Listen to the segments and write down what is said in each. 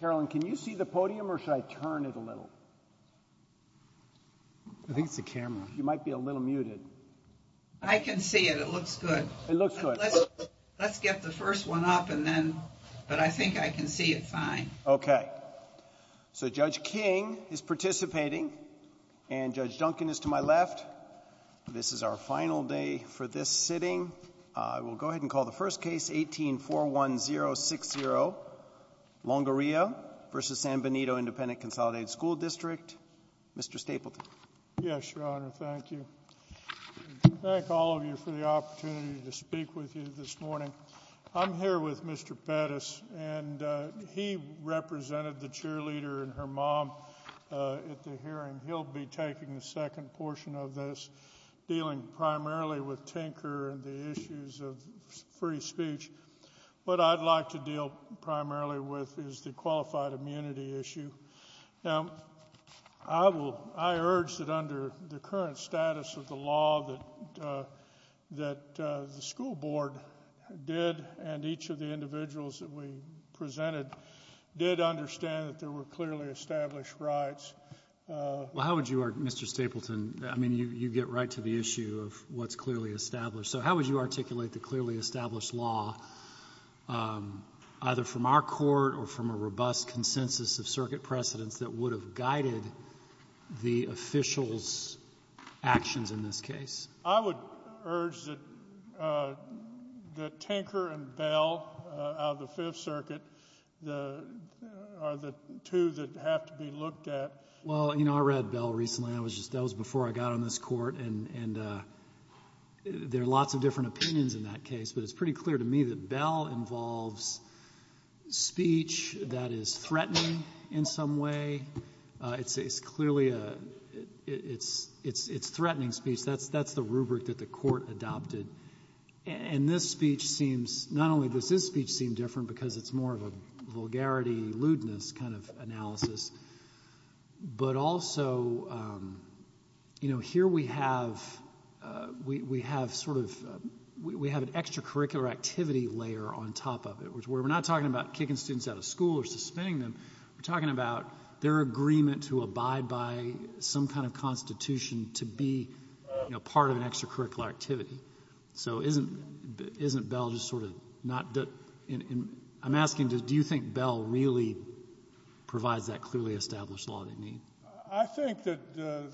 Carolyn, can you see the podium or should I turn it a little? I think it's the camera. You might be a little muted. I can see it. It looks good. It looks good. Let's get the first one up and then, but I think I can see it fine. Okay, so Judge King is participating and Judge Duncan is to my left. This is our final day for this sitting. I will go ahead and call the first case, 18-41060 Longoria v. San Benito Independent Consolidated School District. Mr. Stapleton. Yes, Your Honor. Thank you. Thank all of you for the opportunity to speak with you this morning. I'm here with Mr. Pettis and he represented the cheerleader and her mom at the hearing. He'll be taking the second portion of this, dealing primarily with tinker and the issues of free speech. What I'd like to deal primarily with is the qualified immunity issue. Now, I urge that under the current status of the law that the school board did and each of the individuals that we presented did understand that there were clearly established rights. Well, how would you, Mr. Stapleton, I mean, you get right to the issue of what's clearly established. So how would you articulate the clearly established law, either from our court or from a robust consensus of circuit precedents that would have guided the officials' actions in this case? I would urge that tinker and Bell out of the Fifth Circuit are the two that have to be looked at. Well, you know, I read Bell recently. That was before I got on this Court. And there are lots of different opinions in that case, but it's pretty clear to me that Bell involves speech that is threatening in some way. It's clearly a — it's threatening speech. That's the rubric that the Court adopted. And this speech seems — not only does this speech seem different because it's more of a vulgarity, lewdness kind of analysis, but also, you know, here we have — we have sort of — we have an extracurricular activity layer on top of it, where we're not talking about kicking students out of school or suspending them. We're talking about their agreement to abide by some kind of constitution to be part of an extracurricular activity. So isn't Bell just sort of not — I'm asking, do you think Bell really provides that clearly established law they need? I think that the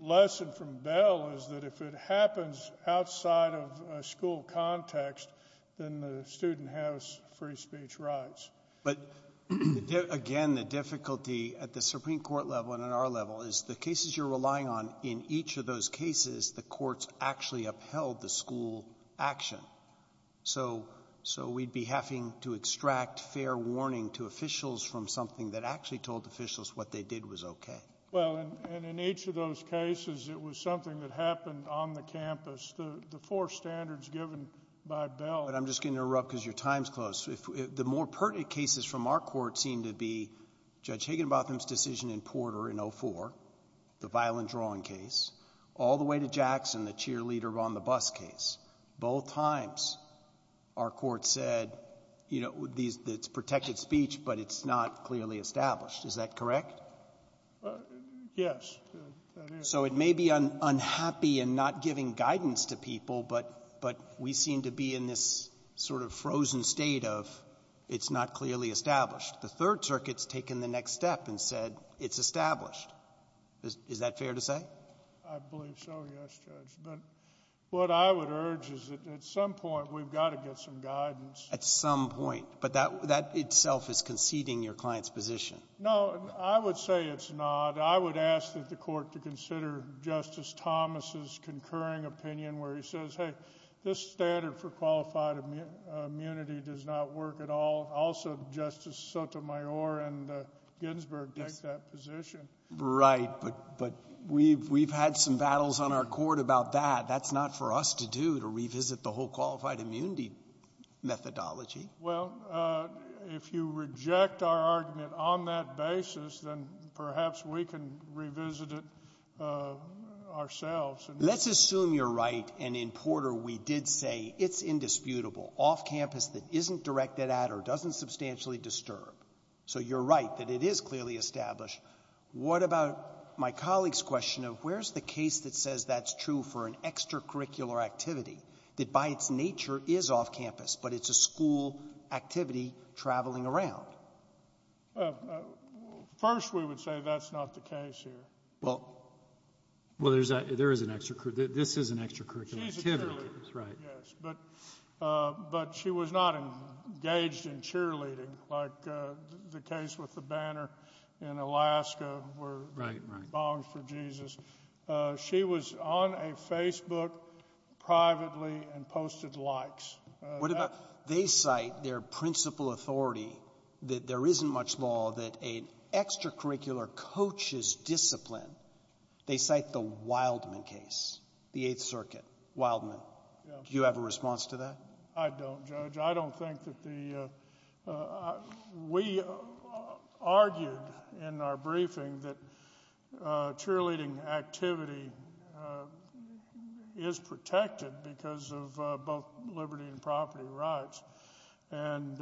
lesson from Bell is that if it happens outside of a school context, then the student has free speech rights. But again, the difficulty at the Supreme Court level and at our level is the cases you're In each of those cases, the courts actually upheld the school action. So we'd be having to extract fair warning to officials from something that actually told officials what they did was OK. Well, and in each of those cases, it was something that happened on the campus. The four standards given by Bell — But I'm just going to interrupt because your time's close. The more pertinent cases from our court seem to be Judge Higginbotham's decision in Porter in 04, the violent drawing case, all the way to Jackson, the cheerleader on the bus case. Both times, our court said, you know, these — it's protected speech, but it's not clearly established. Is that correct? Yes. So it may be unhappy in not giving guidance to people, but we seem to be in this sort of frozen state of it's not clearly established. The Third Circuit's taken the next step and said it's established. Is that fair to say? I believe so, yes, Judge. But what I would urge is that at some point, we've got to get some guidance. At some point. But that itself is conceding your client's position. No, I would say it's not. I would ask that the court to consider Justice Thomas's concurring opinion where he says, hey, this standard for qualified immunity does not work at all. Also, Justice Sotomayor and Ginsburg take that position. Right. But we've had some battles on our court about that. That's not for us to do, to revisit the whole qualified immunity methodology. Well, if you reject our argument on that basis, then perhaps we can revisit it ourselves. Let's assume you're right. And in Porter, we did say it's indisputable off campus that isn't directed at or doesn't substantially disturb. So you're right that it is clearly established. What about my colleague's question of where's the case that says that's true for an extracurricular activity that by its nature is off campus, but it's a school activity traveling around? First, we would say that's not the case here. Well, well, there's there is an extra. This is an extracurricular activity, right? Yes, but but she was not engaged in cheerleading like the case with the banner in Alaska where right now for Jesus, she was on a Facebook privately and posted likes. What about they cite their principal authority that there isn't much law that an extracurricular coaches discipline? They cite the Wildman case, the Eighth Circuit Wildman. Do you have a response to that? I don't judge. I don't think that the we argued in our briefing that cheerleading activity is protected because of both liberty and property rights. And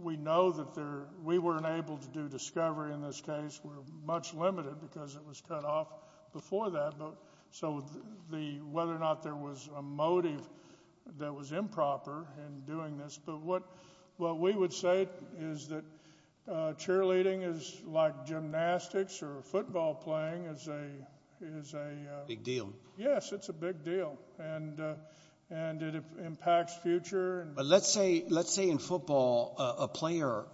we know that there we weren't able to do discovery in this case. We're much limited because it was cut off before that. But so the whether or not there was a motive that was improper in doing this. But what what we would say is that cheerleading is like gymnastics or football playing as a is a big deal. Yes, it's a big deal. And and it impacts future. Let's say let's say in football, a player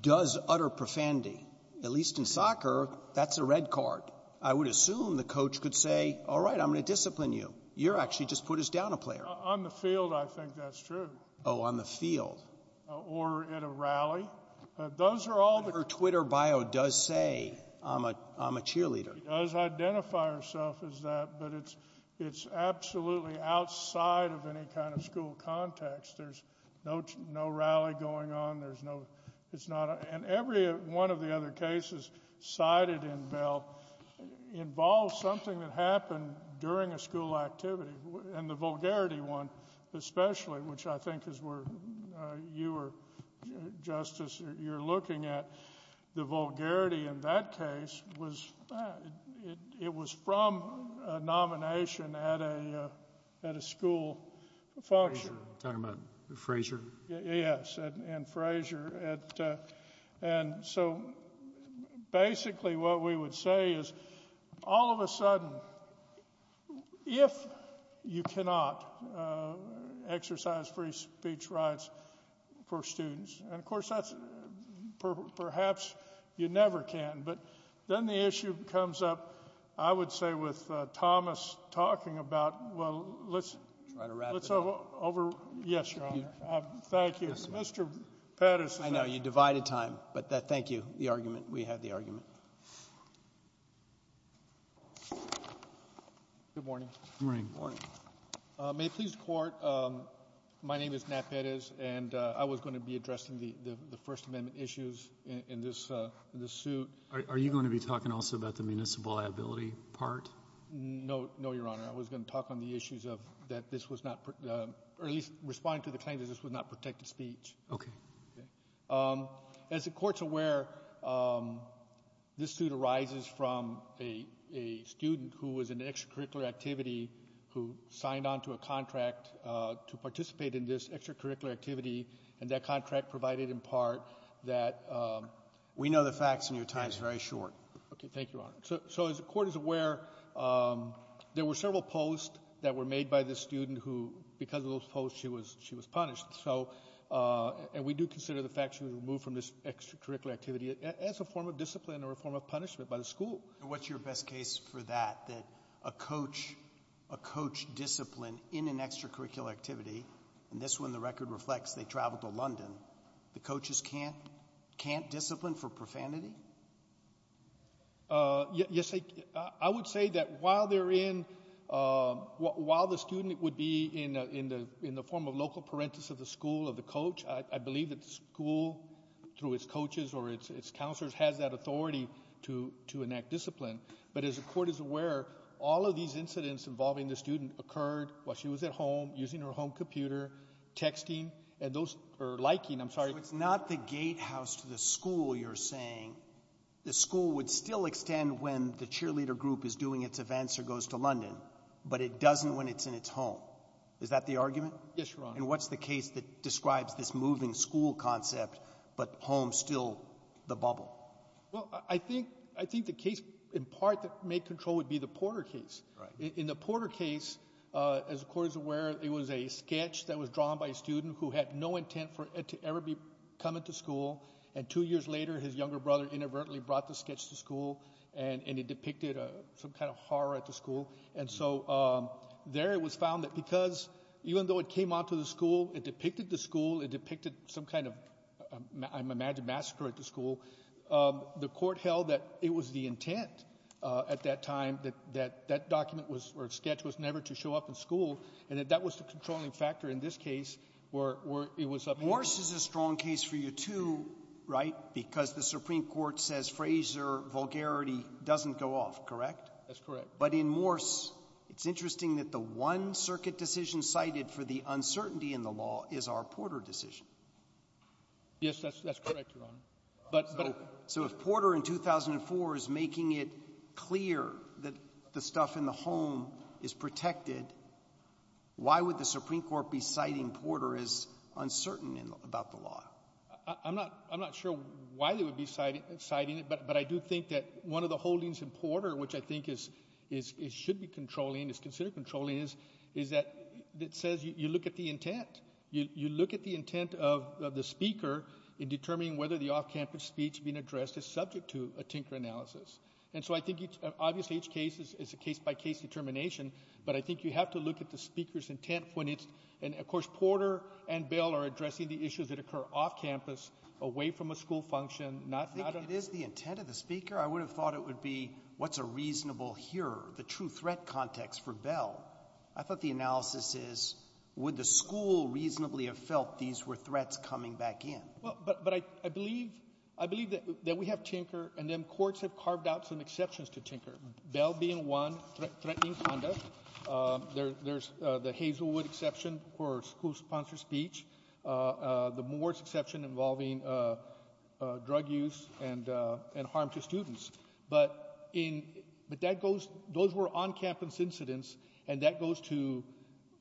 does utter profanity, at least in soccer. That's a red card. I would assume the coach could say, all right, I'm going to discipline you. You're actually just put us down a player on the field. I think that's true. Oh, on the field or in a rally. Those are all her Twitter bio does say I'm a I'm a cheerleader. Does identify herself as that. But it's it's absolutely outside of any kind of school context. There's no no rally going on. There's no it's not. And every one of the other cases cited in Bell involves something that happened during a school activity and the vulgarity one especially, which I think is where you were Justice, you're looking at the vulgarity in that case was it was from a nomination at a at a school function. Time at the Fraser. Yes. And Fraser. And so basically what we would say is all of a sudden, if you cannot exercise free speech rights for students and of course, that's perhaps you never can. But then the issue comes up, I would say, with Thomas talking about, well, let's try to wrap it over. Yes. Thank you, Mr. Pettis. I know you divided time, but thank you. The argument we had, the argument. Good morning, morning, morning, may please court. My name is Matt Pettis and I was going to be addressing the First Amendment issues in this suit. Are you going to be talking also about the municipal liability part? No, no, Your Honor. I was going to talk on the issues of that. This was not at least respond to the claim that this would not protect the speech. OK. As the court's aware, this suit arises from a student who was an extracurricular activity, who signed on to a contract to participate in this extracurricular activity. And that contract provided in part that we know the facts and your time is very short. OK, thank you. So as the court is aware, there were several posts that were made by the student who because of those posts, she was she was punished. So and we do consider the fact she was removed from this extracurricular activity as a form of discipline or a form of punishment by the school. What's your best case for that, that a coach, a coach discipline in an extracurricular activity? And this one, the record reflects they traveled to London. The coaches can't can't discipline for profanity. Yes, I would say that while they're in while the student would be in in the in the form of local parenthesis of the school, of the coach, I believe that school through its discipline. But as the court is aware, all of these incidents involving the student occurred while she was at home, using her home computer, texting and those are liking. I'm sorry, it's not the gatehouse to the school. You're saying the school would still extend when the cheerleader group is doing its events or goes to London, but it doesn't when it's in its home. Is that the argument? Yes, your honor. And what's the case that describes this moving school concept, but home still the in part that may control would be the Porter case in the Porter case, as the court is aware, it was a sketch that was drawn by a student who had no intent for it to ever be coming to school. And two years later, his younger brother inadvertently brought the sketch to school and it depicted some kind of horror at the school. And so there it was found that because even though it came onto the school, it depicted the school, it depicted some kind of I imagine massacre at the school. The court held that it was the intent at that time that that that document was or sketch was never to show up in school and that that was the controlling factor in this case where it was up. Morse is a strong case for you, too, right, because the Supreme Court says Fraser vulgarity doesn't go off. Correct. That's correct. But in Morse, it's interesting that the one circuit decision cited for the uncertainty in the law is our Porter decision. Yes, that's correct, Ron, but so if Porter in 2004 is making it clear that the stuff in the home is protected, why would the Supreme Court be citing Porter is uncertain about the law? I'm not I'm not sure why they would be citing it. But but I do think that one of the holdings in Porter, which I think is is it should be controlling is considered controlling is is that it says you look at the intent, you look at the intent of the speaker in determining whether the off campus speech being addressed is subject to a tinker analysis. And so I think obviously each case is a case by case determination. But I think you have to look at the speaker's intent when it's and of course, Porter and Bell are addressing the issues that occur off campus away from a school function. Not that it is the intent of the speaker. I would have thought it would be what's a reasonable here, the true threat context for Bell. I thought the analysis is would the school reasonably have felt these were threats coming back in? Well, but I believe I believe that we have Tinker and then courts have carved out some exceptions to Tinker Bell being one threatening conduct. There's the Hazelwood exception for school sponsor speech. The Moore's exception involving drug use and and harm to students. But in but that goes those were on campus incidents. And that goes to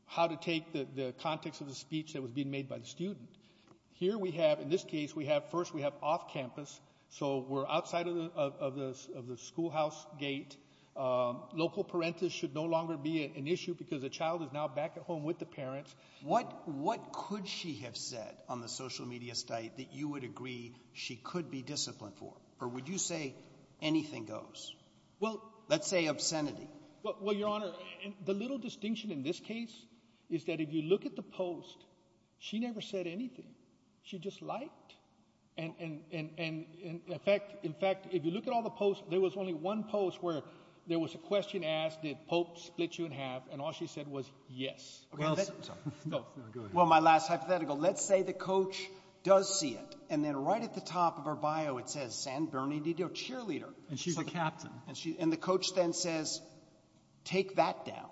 how to take the context of the speech that was being made by the student here. We have in this case, we have first we have off campus. So we're outside of the of the of the schoolhouse gate. Local parentis should no longer be an issue because the child is now back at home with the parents. What what could she have said on the social media site that you would agree she could be disciplined for? Or would you say anything goes? Well, let's say obscenity. Well, Your Honor, the little distinction in this case is that if you look at the post, she never said anything. She just liked. And in fact, in fact, if you look at all the posts, there was only one post where there was a question asked, did Pope split you in half? And all she said was, yes. Well, my last hypothetical, let's say the coach does see it. And then right at the top of her bio, it says San Bernadino cheerleader and she's a captain. And she and the coach then says, take that down.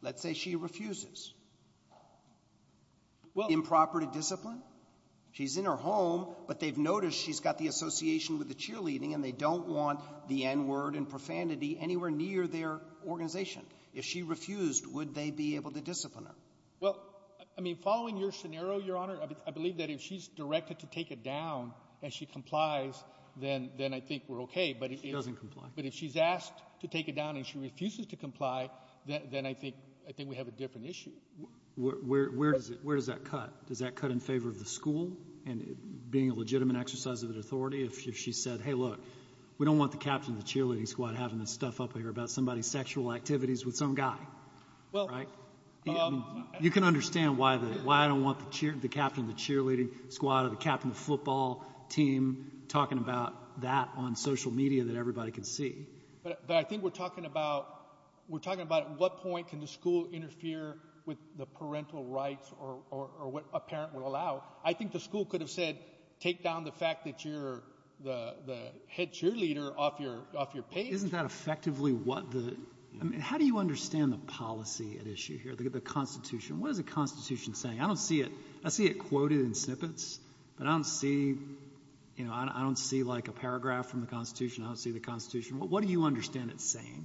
Let's say she refuses. Well, improper to discipline, she's in her home, but they've noticed she's got the association with the cheerleading and they don't want the N word and profanity anywhere near their organization. If she refused, would they be able to discipline her? Well, I mean, following your scenario, Your Honor, I believe that if she's directed to take it down and she complies, then then I think we're OK. But it doesn't comply. But if she's asked to take it down and she refuses to comply, then I think I think we have a different issue. Where does it where does that cut? Does that cut in favor of the school and being a legitimate exercise of authority? If she said, hey, look, we don't want the captain of the cheerleading squad having this stuff up here about somebody's sexual activities with some guy. Well, you can understand why the why I don't want the captain of the cheerleading squad or the captain of the football team talking about that on social media that everybody can see. But I think we're talking about we're talking about at what point can the school interfere with the parental rights or what a parent would allow? I think the school could have said take down the fact that you're the head cheerleader off your off your page. Isn't that effectively what the how do you understand the policy at issue here? The Constitution. What is the Constitution saying? I don't see it. I see it quoted in snippets, but I don't see you know, I don't see like a paragraph from the Constitution. I don't see the Constitution. What do you understand it's saying?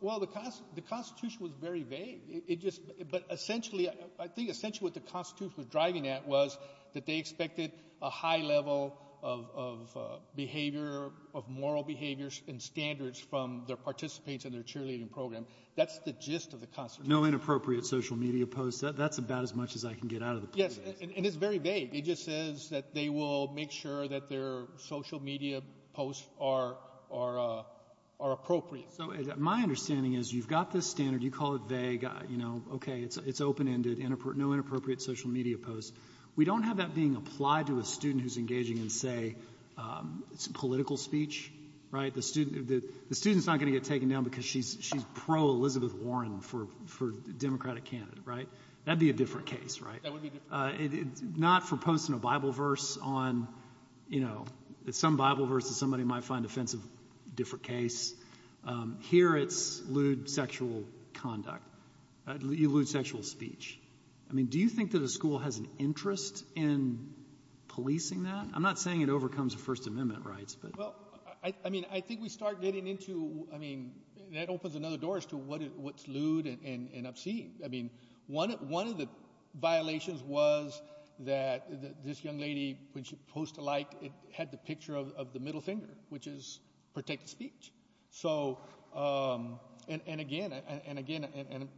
Well, the the Constitution was very vague. It just but essentially I think essentially what the Constitution was driving at was that they expected a high level of behavior of moral behaviors and standards from their participants in their cheerleading program. That's the gist of the Constitution. No inappropriate social media posts. That's about as much as I can get out of the. Yes. And it's very vague. It just says that they will make sure that their social media posts are are are appropriate. So my understanding is you've got this standard. You call it vague. You know, OK, it's open ended and no inappropriate social media posts. We don't have that being applied to a student who's engaging in, say, political speech. Right. The student that the student's not going to get taken down because she's she's pro Elizabeth Warren for for Democratic candidate. Right. That'd be a different case. Right. It's not for posting a Bible verse on, you know, some Bible verses. Somebody might find offensive. Different case here. It's lewd sexual conduct. You lewd sexual speech. I mean, do you think that a school has an interest in policing that? I'm not saying it overcomes the First Amendment rights, but I mean, I think we start getting into I mean, that opens another door as to what what's lewd and obscene. I mean, one of one of the violations was that this young lady, when she posted like it, had the picture of the middle finger, which is protected speech. So and again and again,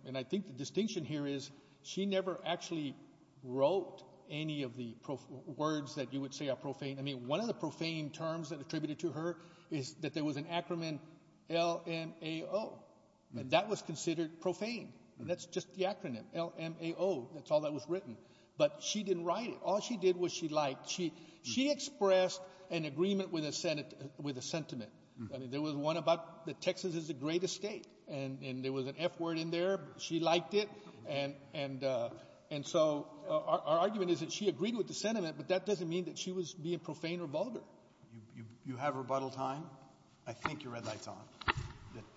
and I think the distinction here is she never actually wrote any of the words that you would say are profane. I mean, one of the profane terms that attributed to her is that there was an acronym in LMAO and that was considered profane. And that's just the acronym LMAO. That's all that was written. But she didn't write it. All she did was she liked she she expressed an agreement with a Senate with a sentiment. I mean, there was one about the Texas is a great estate and there was an F word in there. She liked it. And and and so our argument is that she agreed with the sentiment. But that doesn't mean that she was being profane or vulgar. You have rebuttal time. I think your red light's on.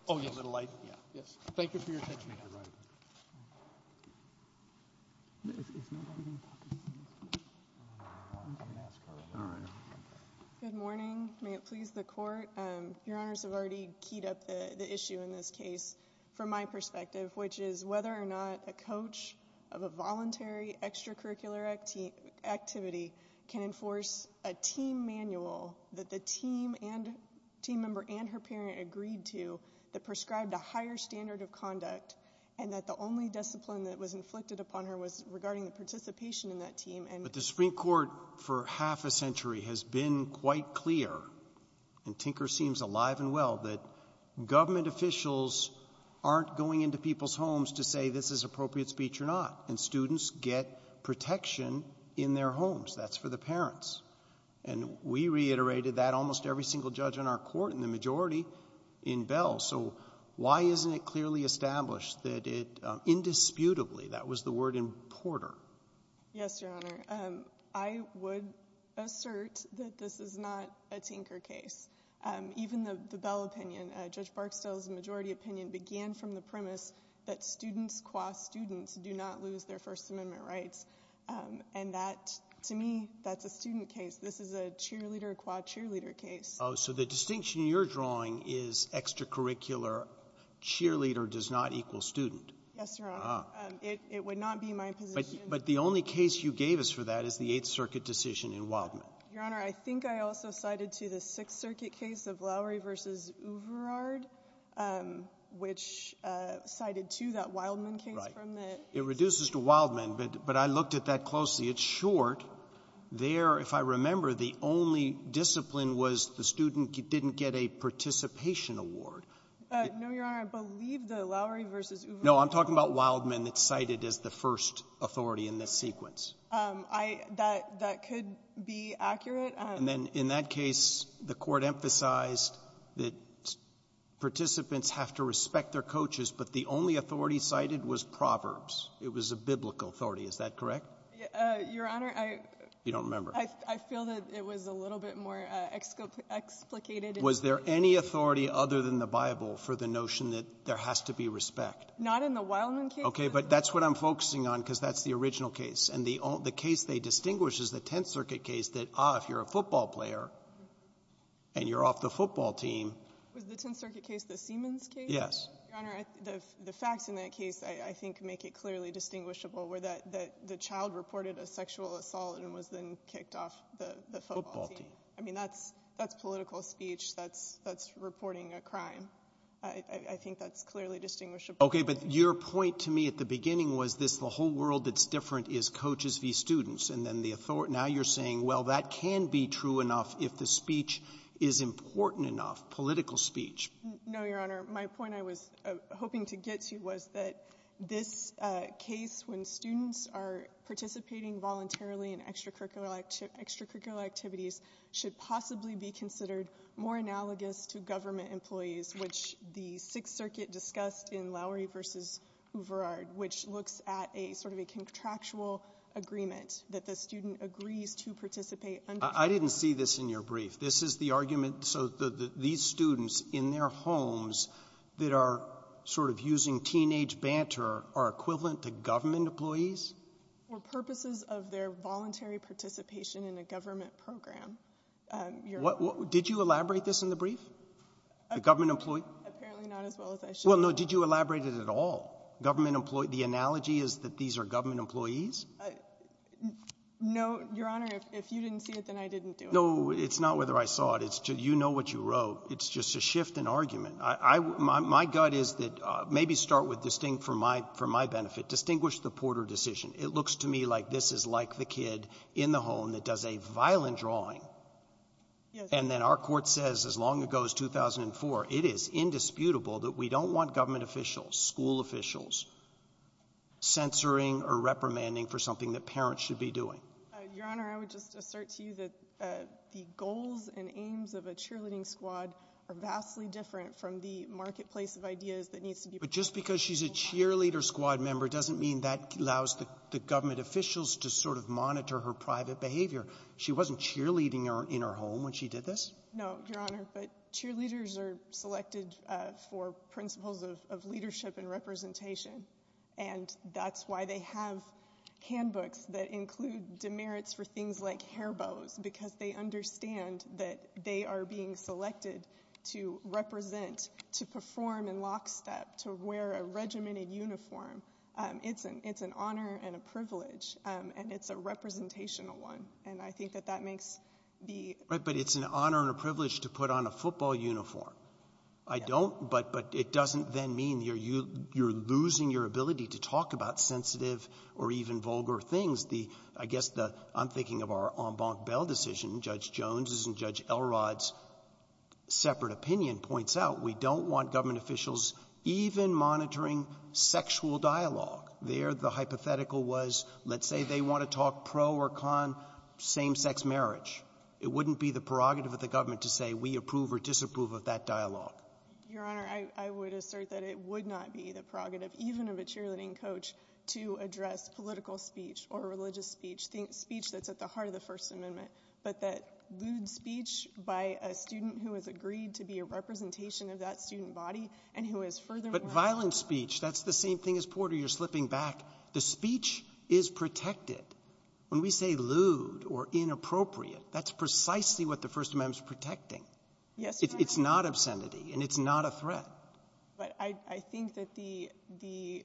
Oh, yes. A little light. Yeah. Yes. Thank you for your attention. Good morning. May it please the court. Your honors have already keyed up the issue in this case from my perspective, which is whether or not a coach of a voluntary extracurricular activity activity can enforce a team manual that the team and team member and her parent agreed to that prescribed a higher standard of conduct and that the only discipline that was inflicted upon her was regarding the participation in that team. And the Supreme Court for half a century has been quite clear and Tinker seems alive and well that government officials aren't going into people's homes to say this is appropriate speech or not. And students get protection in their homes. That's for the parents. And we reiterated that almost every single judge in our court in the majority in Bell. So why isn't it clearly established that it indisputably that was the word in Porter? Yes, your honor. I would assert that this is not a Tinker case. Even the Bell opinion, Judge Barksdale's majority opinion began from the premise that students cost students do not lose their First Amendment rights. And that to me, that's a student case. This is a cheerleader cheerleader case. Oh, so the distinction you're drawing is extracurricular cheerleader does not equal student. Yes, your honor. It would not be my position, but the only case you gave us for that is the Eighth Circuit decision in Wildman. Your honor, I think I also cited to the Sixth Circuit case of Lowry versus Uverard, which cited to that Wildman case. It reduces to Wildman. But I looked at that closely. It's short there. If I remember, the only discipline was the student didn't get a participation award. No, your honor. I believe the Lowry versus. No, I'm talking about Wildman that's cited as the first authority in this sequence. I that that could be accurate. And then in that case, the court emphasized that participants have to respect their coaches. But the only authority cited was Proverbs. It was a biblical authority. Is that correct? Your honor, I don't remember. I feel that it was a little bit more explicit. Explicit. Was there any authority other than the Bible for the notion that there has to be respect? Not in the Wildman case. OK, but that's what I'm focusing on, because that's the original case. And the the case they distinguish is the Tenth Circuit case that if you're a football player. And you're off the football team with the Tenth Circuit case, the Siemens case. Yes, your honor. The facts in that case, I think, make it clearly distinguishable where that the child reported a sexual assault and was then kicked off the football team. I mean, that's that's political speech. That's that's reporting a crime. I think that's clearly distinguishable. OK, but your point to me at the beginning was this. The whole world that's different is coaches v. students. And then the author now you're saying, well, that can be true enough if the speech is important enough. Political speech. No, your honor. My point I was hoping to get to was that this case, when students are participating voluntarily in extracurricular extracurricular activities, should possibly be considered more analogous to government employees, which the Sixth Circuit discussed in Lowery v. Overard, which looks at a sort of a contractual agreement that the student agrees to participate. I didn't see this in your brief. This is the argument. So these students in their homes that are sort of using teenage banter are equivalent to government employees for purposes of their voluntary participation in a government program. What did you elaborate this in the brief? The government employee. Apparently not as well as I should. Well, no. Did you elaborate it at all? Government employee. The analogy is that these are government employees. No, your honor. If you didn't see it, then I didn't do it. No, it's not whether I saw it. It's just you know what you wrote. It's just a shift in argument. I my gut is that maybe start with distinct for my for my benefit. Distinguish the Porter decision. It looks to me like this is like the kid in the home that does a violent drawing. Yes. And then our court says as long ago as 2004, it is indisputable that we don't want government officials, school officials. Censoring or reprimanding for something that parents should be doing, your honor, I would just assert to you that the goals and aims of a cheerleading squad are vastly different from the marketplace of ideas that needs to be. But just because she's a cheerleader squad member doesn't mean that allows the government officials to sort of monitor her private behavior. She wasn't cheerleading in her home when she did this. No, your honor. But cheerleaders are selected for principles of leadership and representation. And that's why they have handbooks that include demerits for things like hair bows, because they understand that they are being selected to represent, to perform in lockstep, to wear a regimented uniform. It's an it's an honor and a privilege. And it's a representational one. And I think that that makes the right. But it's an honor and a privilege to put on a football uniform. I don't. But but it doesn't then mean you're you you're losing your ability to talk about sensitive or even vulgar things. The I guess the I'm thinking of our en banc bail decision. Judge Jones's and Judge Elrod's separate opinion points out we don't want government officials even monitoring sexual dialogue there. The hypothetical was, let's say they want to talk pro or con same sex marriage. It wouldn't be the prerogative of the government to say we approve or disapprove of that dialogue. Your honor, I would assert that it would not be the prerogative even of a cheerleading coach to address political speech or religious speech, speech that's at the heart of the First Amendment. But that lewd speech by a student who has agreed to be a representation of that student body and who is further. But violent speech. That's the same thing as Porter. You're slipping back. The speech is protected when we say lewd or inappropriate. That's precisely what the First Amendment is protecting. Yes. It's not obscenity and it's not a threat. But I think that the the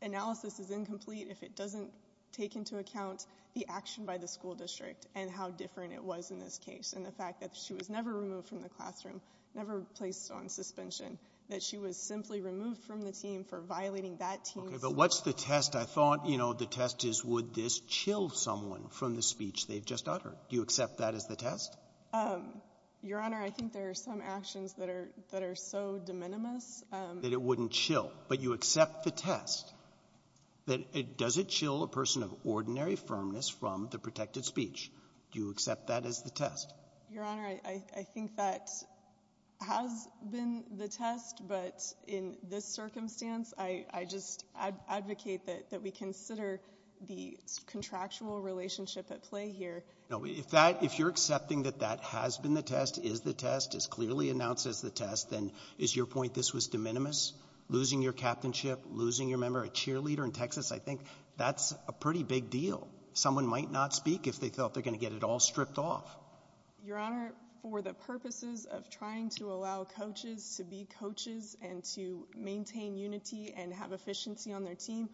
analysis is incomplete if it doesn't take into account the action by the school district and how different it was in this case. And the fact that she was never removed from the classroom, never placed on suspension, that she was simply removed from the team for violating that team. But what's the test? I thought, you know, the test is, would this chill someone from the speech they've just uttered? Do you accept that as the test? Your honor, I think there are some actions that are that are so de minimis that it wouldn't chill. But you accept the test that it doesn't chill a person of ordinary firmness from the protected speech. Do you accept that as the test? Your honor, I think that has been the test. But in this circumstance, I just advocate that that we consider the contractual relationship at play here. Now, if that if you're accepting that that has been the test is the test is clearly announced as the test, then is your point this was de minimis losing your captainship, losing your member, a cheerleader in Texas? I think that's a pretty big deal. Someone might not speak if they felt they're going to get it all stripped off. Your honor, for the purposes of trying to allow coaches to be coaches and to maintain unity and have efficiency on their team,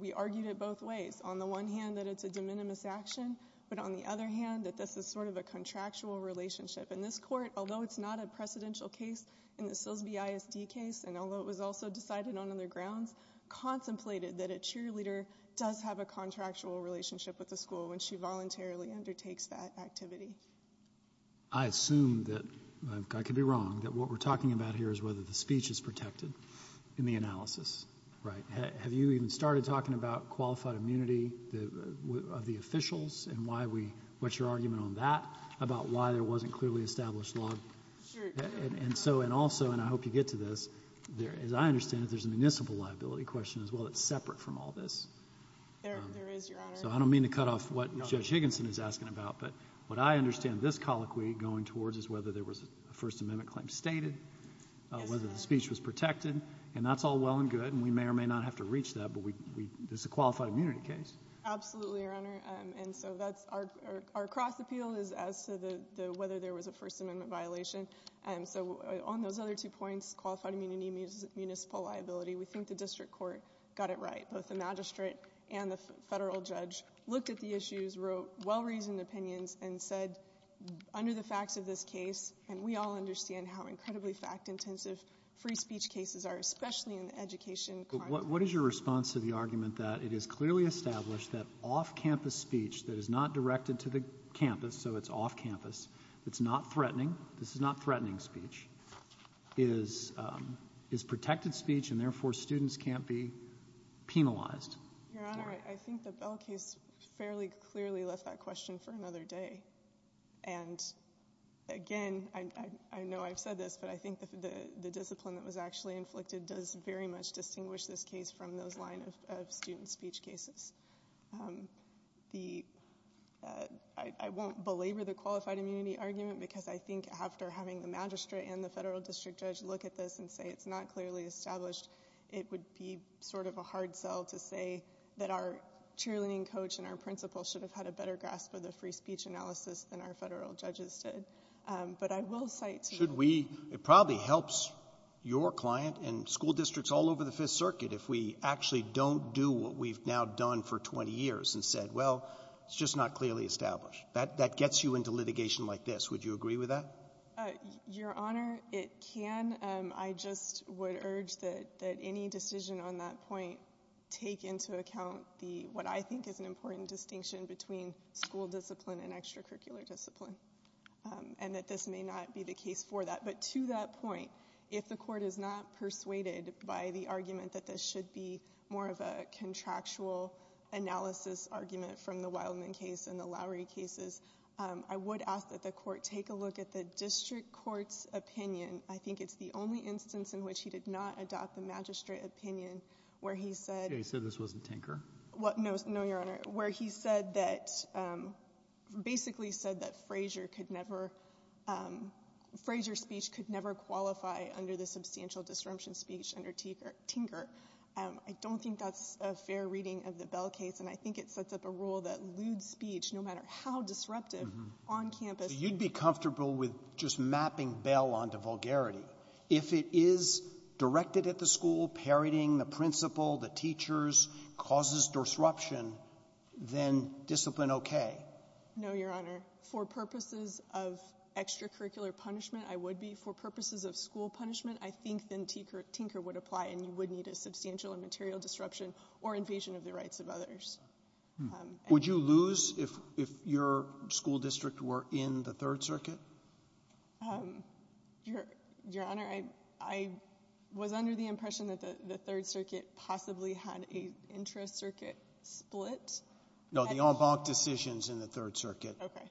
we argued it both ways. On the one hand, that it's a de minimis action. But on the other hand, that this is sort of a contractual relationship in this court, although it's not a precedential case in the Silsby ISD case, and although it was also decided on other grounds, contemplated that a cheerleader does have a contractual relationship with the school when she voluntarily undertakes that activity. I assume that I could be wrong, that what we're talking about here is whether the speech is protected in the analysis, right? Have you even started talking about qualified immunity of the officials and why we what's your argument on that, about why there wasn't clearly established law? And so and also, and I hope you get to this, as I understand it, there's a municipal liability question as well that's separate from all this. There is, Your Honor. So I don't mean to cut off what Judge Higginson is asking about, but what I understand this colloquy going towards is whether there was a First Amendment claim stated, whether the speech was protected, and that's all well and good. And we may or may not have to reach that, but we this is a qualified immunity case. Absolutely, Your Honor. And so that's our our cross appeal is as to the whether there was a First Amendment violation. And so on those other two points, qualified immunity, municipal liability, we looked at the issues, wrote well-reasoned opinions, and said, under the facts of this case, and we all understand how incredibly fact-intensive free speech cases are, especially in education. What is your response to the argument that it is clearly established that off-campus speech that is not directed to the campus, so it's off-campus, it's not threatening, this is not threatening speech, is is protected speech and therefore students can't be penalized? Your Honor, I think the Bell case fairly clearly left that question for another day. And again, I know I've said this, but I think the discipline that was actually inflicted does very much distinguish this case from those line of student speech cases. I won't belabor the qualified immunity argument because I think after having the magistrate and the federal district judge look at this and say it's not clearly established, it would be sort of a hard sell to say that our cheerleading coach and our principal should have had a better grasp of the free speech analysis than our federal judges did. But I will cite... Should we, it probably helps your client and school districts all over the Fifth Circuit if we actually don't do what we've now done for 20 years and said, well, it's just not clearly established. That gets you into litigation like this. Would you agree with that? Your Honor, it can. I just would urge that any decision on that point take into account the what I think is an important distinction between school discipline and extracurricular discipline and that this may not be the case for that. But to that point, if the court is not persuaded by the argument that this should be more of a contractual analysis argument from the Wildman case and the Lowery cases, I would ask that the court take a look at the district court's opinion. I think it's the only instance in which he did not adopt the magistrate opinion where he said... He said this wasn't tinker? What? No, no, Your Honor. Where he said that, um, basically said that Frazier could never, um, Frazier speech could never qualify under the substantial disruption speech under tinker. Um, I don't think that's a fair reading of the Bell case. And I think it sets up a rule that lewd speech, no matter how disruptive on campus. You'd be comfortable with just mapping Bell onto vulgarity. If it is directed at the school, parroting the principal, the teachers causes disruption, then discipline. Okay. No, Your Honor. For purposes of extracurricular punishment, I would be for purposes of school punishment, I think then tinker, tinker would apply and you would need a substantial and material disruption or invasion of the rights of others. Would you lose if, if your school district were in the third circuit? Um, Your, Your Honor, I, I was under the impression that the third circuit possibly had a intra circuit split. No, the en banc decisions in the third circuit. Okay.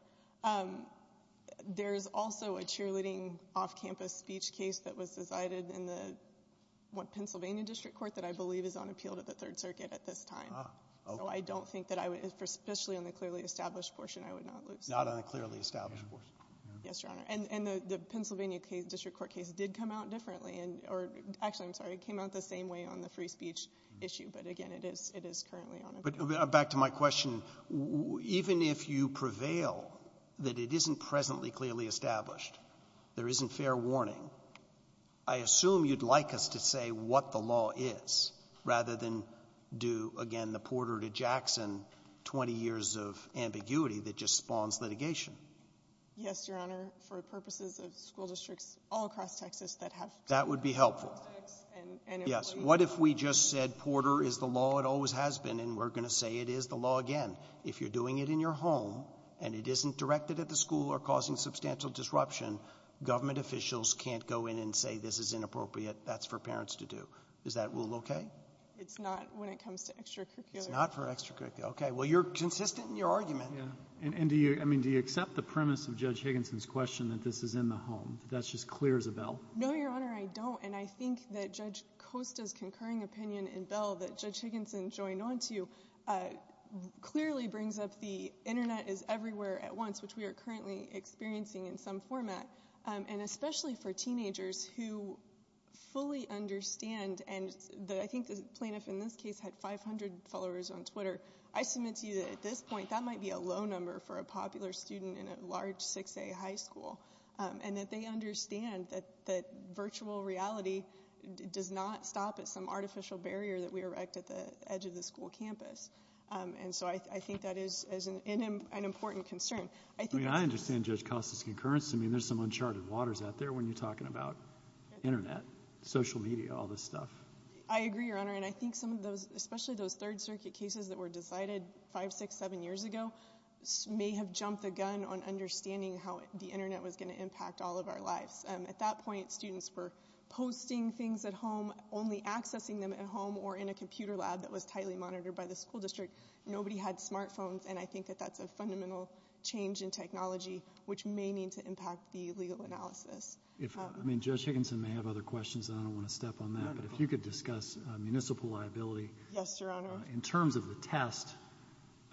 Um, there's also a cheerleading off-campus speech case that was decided in the one that I believe is on appeal to the third circuit at this time. So I don't think that I would, especially on the clearly established portion, I would not lose. Not on a clearly established portion. Yes, Your Honor. And, and the Pennsylvania case, district court case did come out differently and, or actually, I'm sorry, it came out the same way on the free speech issue. But again, it is, it is currently on appeal. But back to my question, even if you prevail that it isn't presently clearly established, there isn't fair warning, I assume you'd like us to say what the law is rather than do again, the Porter to Jackson, 20 years of ambiguity that just spawns litigation. Yes, Your Honor. For purposes of school districts all across Texas that have, that would be helpful. And yes, what if we just said Porter is the law? It always has been. And we're going to say it is the law again, if you're doing it in your home and it isn't directed at the school or causing substantial disruption, government officials can't go in and say, this is inappropriate. That's for parents to do. Is that rule okay? It's not when it comes to extracurricular. It's not for extracurricular. Okay. Well, you're consistent in your argument. Yeah. And, and do you, I mean, do you accept the premise of Judge Higginson's question that this is in the home, that that's just clear as a bell? No, Your Honor, I don't. And I think that Judge Costa's concurring opinion in Bell that Judge Higginson joined onto, uh, clearly brings up the internet is everywhere at once, which we are currently experiencing in some format. Um, and especially for teenagers who fully understand, and I think the plaintiff in this case had 500 followers on Twitter. I submit to you that at this point, that might be a low number for a popular student in a large six day high school. Um, and that they understand that, that virtual reality does not stop at some artificial barrier that we erect at the edge of the school campus. Um, and so I, I think that is, is an, an important concern. I think I understand Judge Costa's concurrence. I mean, there's some uncharted waters out there when you're talking about internet, social media, all this stuff. I agree, Your Honor. And I think some of those, especially those third circuit cases that were decided five, six, seven years ago, may have jumped the gun on understanding how the internet was going to impact all of our lives. Um, at that point, students were posting things at home, only accessing them at home or in a computer lab that was tightly monitored by the school district. Nobody had smartphones. And I think that that's a fundamental change in technology, which may need to impact the legal analysis. If I mean, Judge Higginson may have other questions and I don't want to step on that, but if you could discuss a municipal liability in terms of the test,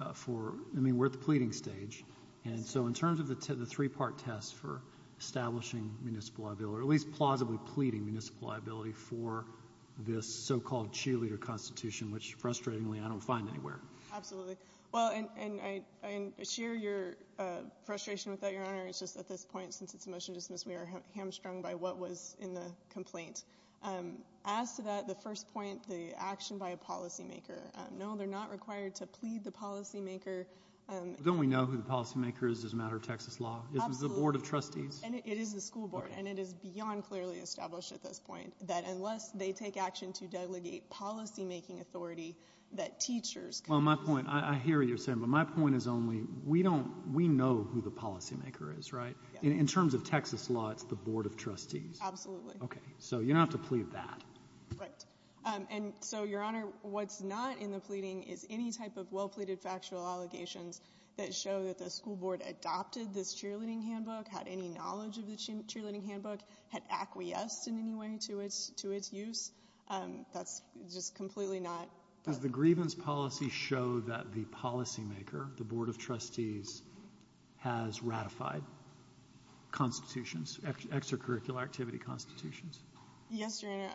uh, for, I mean, we're at the pleading stage. And so in terms of the, the three part test for establishing municipal liability, or at least plausibly pleading municipal liability for this so-called cheerleader constitution, which frustratingly I don't find anywhere. Absolutely. At this point, since it's a motion to dismiss, we are hamstrung by what was in the complaint. Um, as to that, the first point, the action by a policymaker, um, no, they're not required to plead the policymaker. Um, don't we know who the policymaker is as a matter of Texas law is the board of trustees and it is the school board and it is beyond clearly established at this point that unless they take action to delegate policymaking authority, that teachers, well, my point, I hear you're saying, but my point is only we don't, we don't know who the policymaker is, right? In terms of Texas law, it's the board of trustees. Absolutely. Okay. So you don't have to plead that. Right. Um, and so your honor, what's not in the pleading is any type of well pleaded factual allegations that show that the school board adopted this cheerleading handbook, had any knowledge of the cheerleading handbook had acquiesced in any way to its, to its use. Um, that's just completely not. Does the grievance policy show that the policymaker, the board of trustees, has ratified constitutions, extracurricular activity constitutions? Yes. Your honor,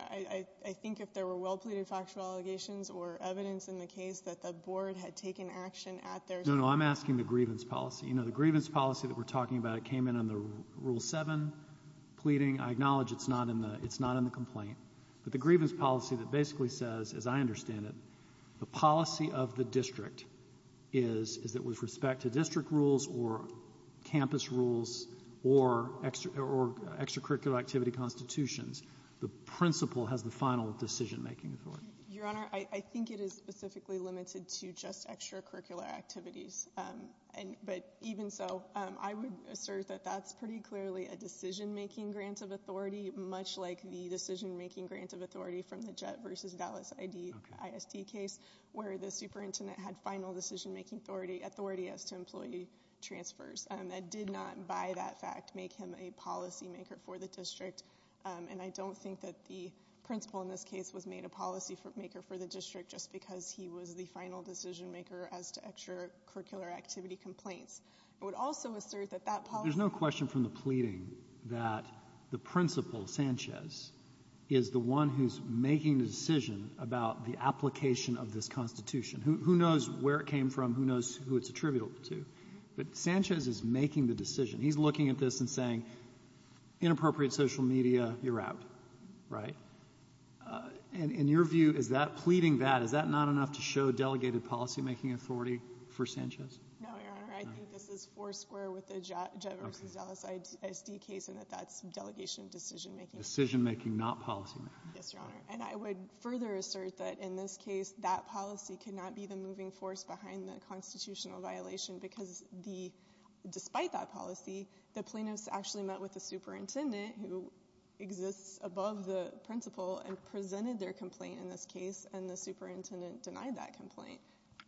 I think if there were well pleaded factual allegations or evidence in the case that the board had taken action at their. No, no. I'm asking the grievance policy. You know, the grievance policy that we're talking about, it came in on the rule seven pleading. I acknowledge it's not in the, it's not in the complaint, but the grievance policy that basically says, as I understand it, the policy of the district is, is that with respect to district rules or campus rules or extra or extracurricular activity constitutions, the principal has the final decision making authority. Your honor, I think it is specifically limited to just extracurricular activities. Um, and, but even so, um, I would assert that that's pretty clearly a decision making grants of authority, much like the decision making grants of authority from the JET versus Dallas ID, ISD case where the superintendent had final decision making authority, authority as to employee transfers. Um, that did not by that fact, make him a policy maker for the district. Um, and I don't think that the principal in this case was made a policy for maker for the district just because he was the final decision maker as to extracurricular activity complaints. I would also assert that that policy. There's no question from the pleading that the principal Sanchez is the one who's making the decision about the application of this constitution, who knows where it came from, who knows who it's attributable to, but Sanchez is making the decision. He's looking at this and saying, inappropriate social media, you're out. Right. Uh, and in your view, is that pleading that, is that not enough to show delegated policymaking authority for Sanchez? No, your honor. I think this is four square with the JET versus Dallas ISD case and that that's delegation decision making. Decision making, not policymaking. Yes, your honor. And I would further assert that in this case, that policy could not be the moving force behind the constitutional violation because the, despite that policy, the plaintiffs actually met with the superintendent who exists above the principal and presented their complaint in this case and the superintendent denied that complaint.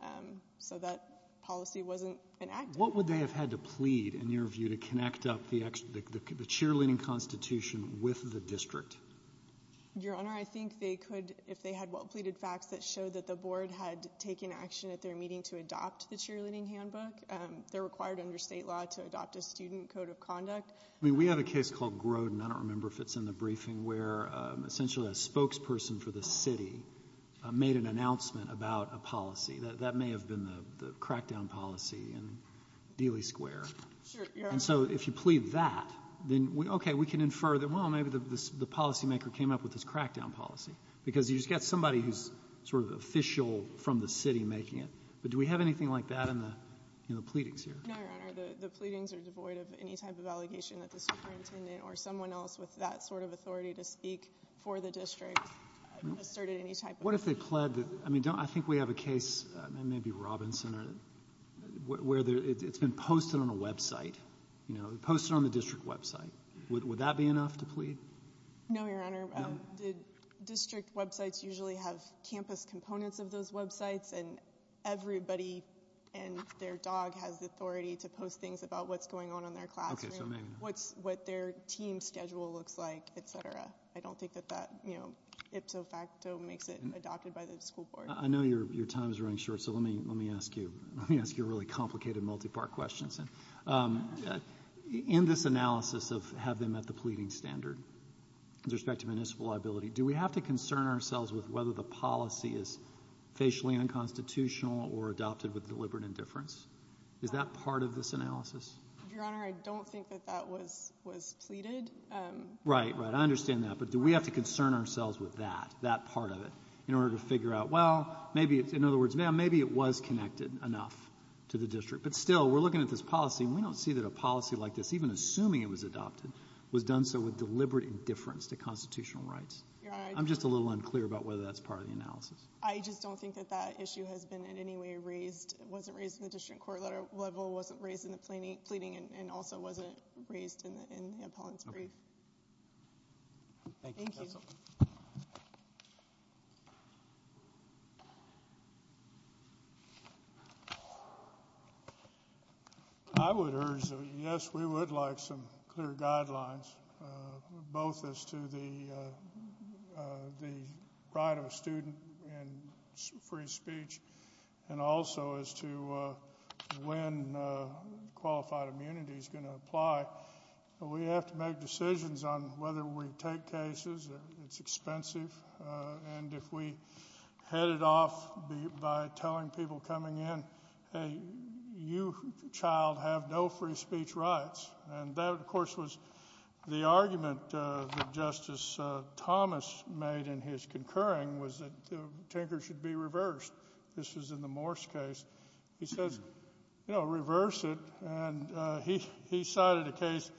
Um, so that policy wasn't an act. What would they have had to plead in your view to connect up the extra, the cheerleading constitution with the district? Your honor, I think they could, if they had well pleaded facts that show that the board had taken action at their meeting to adopt the cheerleading handbook, um, they're required under state law to adopt a student code of conduct. I mean, we have a case called Grodin. I don't remember if it's in the briefing where, um, essentially a spokesperson for the city, uh, made an announcement about a policy that, that may have been the, the crackdown policy in Dealey square. And so if you plead that, then we, okay, we can infer that, well, maybe the, the policymaker came up with this crackdown policy because you just got somebody who's sort of official from the city making it. But do we have anything like that in the, in the pleadings here? No, your honor. The pleadings are devoid of any type of allegation that the superintendent or someone else with that sort of authority to speak for the district asserted any type. What if they pled that? I mean, don't, I think we have a case, maybe Robinson or where it's been posted Would that be enough to plead? No, your honor. The district websites usually have campus components of those websites and everybody and their dog has the authority to post things about what's going on in their classroom, what's what their team schedule looks like, et cetera. I don't think that that, you know, ipso facto makes it adopted by the school board. I know your, your time is running short. So let me, let me ask you, let me ask you a really complicated multi-part questions. And, um, in this analysis of have them at the pleading standard, with respect to municipal liability, do we have to concern ourselves with whether the policy is facially unconstitutional or adopted with deliberate indifference? Is that part of this analysis? Your honor, I don't think that that was, was pleaded. Um, right, right. I understand that. But do we have to concern ourselves with that, that part of it in order to figure out, well, maybe it's, in other words, ma'am, maybe it was connected enough to the district, but still we're looking at this policy and we don't see that a policy like this, even assuming it was adopted, was done. So with deliberate indifference to constitutional rights, I'm just a little unclear about whether that's part of the analysis. I just don't think that that issue has been in any way raised. It wasn't raised in the district court letter level. It wasn't raised in the planning, pleading, and also wasn't raised in the, in the appellant's brief. Thank you. I would urge, yes, we would like some clear guidelines. Both as to the, uh, uh, the right of a student and free speech and also as to, uh, when, uh, qualified immunity is going to apply, but we have to make decisions on whether we take cases, it's expensive. Uh, and if we headed off by telling people coming in, Hey, you child have no free speech rights. And that of course was the argument, uh, that justice, uh, Thomas made in his concurring was that the Tinker should be reversed. This was in the Morse case. He says, you know, reverse it. And, uh, he, he cited a case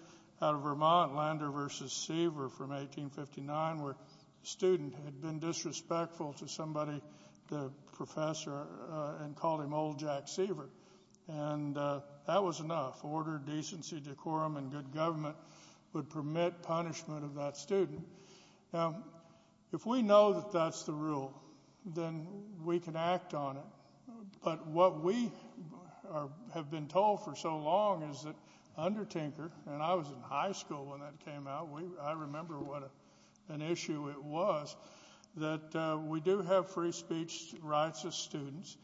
out of Vermont Lander versus Seaver from 1859 where student had been disrespectful to somebody, the professor, uh, and called him old Jack Seaver. And, uh, that was enough order, decency, decorum, and good government would permit punishment of that student. Now, if we know that that's the rule, then we can act on it. But what we are, have been told for so long is that under Tinker, and I was in high school when that came out, we, I remember what an issue it was that, uh, we do have free speech rights as students.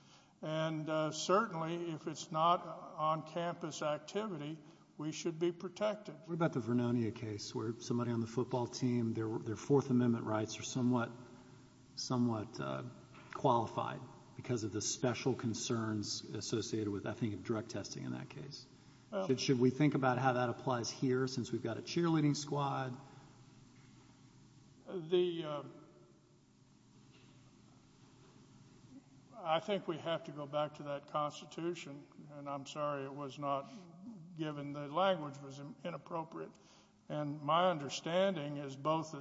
And, uh, certainly if it's not on campus activity, we should be protected. What about the Vernonia case where somebody on the football team, their, their fourth amendment rights are somewhat, somewhat, uh, qualified because of the special concerns associated with, I think, direct testing in that case. Should we think about how that applies here, since we've got a cheerleading squad, the, uh, I think we have to go back to that constitution and I'm sorry, it was not given the language was inappropriate. And my understanding is both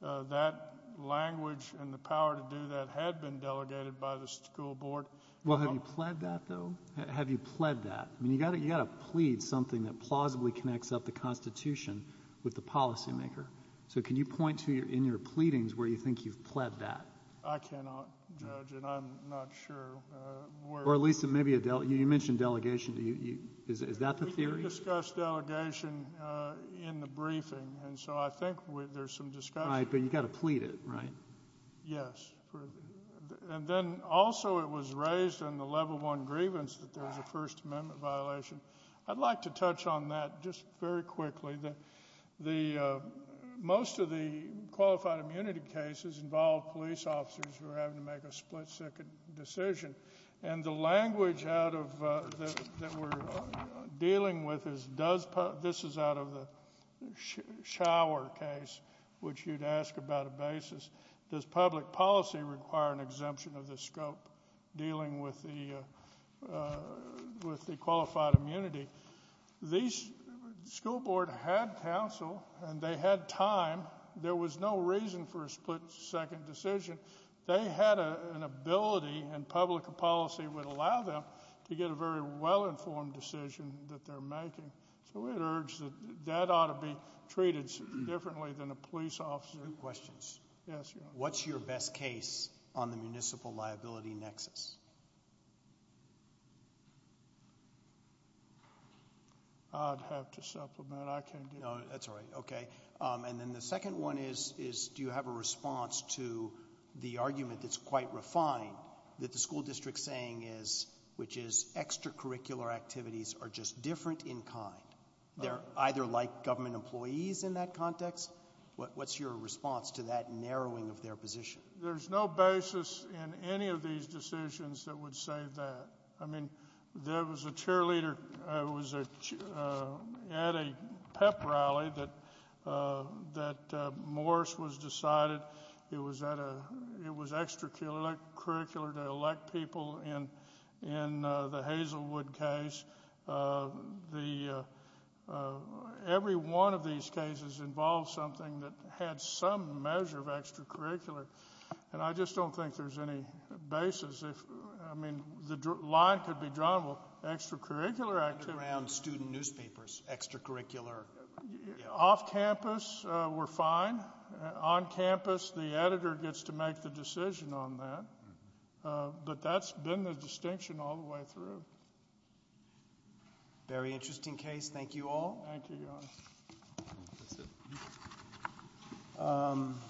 that, uh, that language and the power to do that had been delegated by the school board. Well, have you pled that though? Have you pled that? I mean, you gotta, you gotta plead something that plausibly connects up the constitution with the policymaker. So can you point to your, in your pleadings where you think you've pled that? I cannot judge it. I'm not sure. Uh, or at least it may be a Dell. You mentioned delegation. Do you, is, is that the theory? Discuss delegation, uh, in the briefing. And so I think there's some discussion, but you've got to plead it, right? Yes. And then also it was raised in the level one grievance that there was a first amendment violation. I'd like to touch on that just very quickly that the, uh, most of the qualified immunity cases involve police officers who are having to make a split second decision. And the language out of, uh, that we're dealing with is does, this is out of the shower case, which you'd ask about a basis. Does public policy require an exemption of the scope dealing with the, uh, with the qualified immunity, these school board had counsel and they had time. There was no reason for a split second decision. They had a, an ability and public policy would allow them to get a very well-informed decision that they're making. So we'd urge that that ought to be treated differently than a police officer. Yes. What's your best case on the municipal liability nexus? I'd have to supplement. I can't do that. No, that's all right. Okay. Um, and then the second one is, is, do you have a response to the argument that's quite refined that the school district saying is, which is extracurricular activities are just different in kind. They're either like government employees in that context. What, what's your response to that narrowing of their position? There's no basis in any of these decisions that would say that, I mean, there was a cheerleader, uh, was, uh, at a pep rally that, uh, that, uh, Morris was decided it was at a, it was extracurricular to elect people in, in, uh, the Hazelwood case. Uh, the, uh, uh, every one of these cases involves something that had some measure of extracurricular. And I just don't think there's any basis. I mean, the line could be drawn, well, extracurricular activities around student newspapers, extracurricular off campus, uh, we're fine on campus. The editor gets to make the decision on that. Uh, but that's been the distinction all the way through. Very interesting case. Thank you all. Thank you. Um.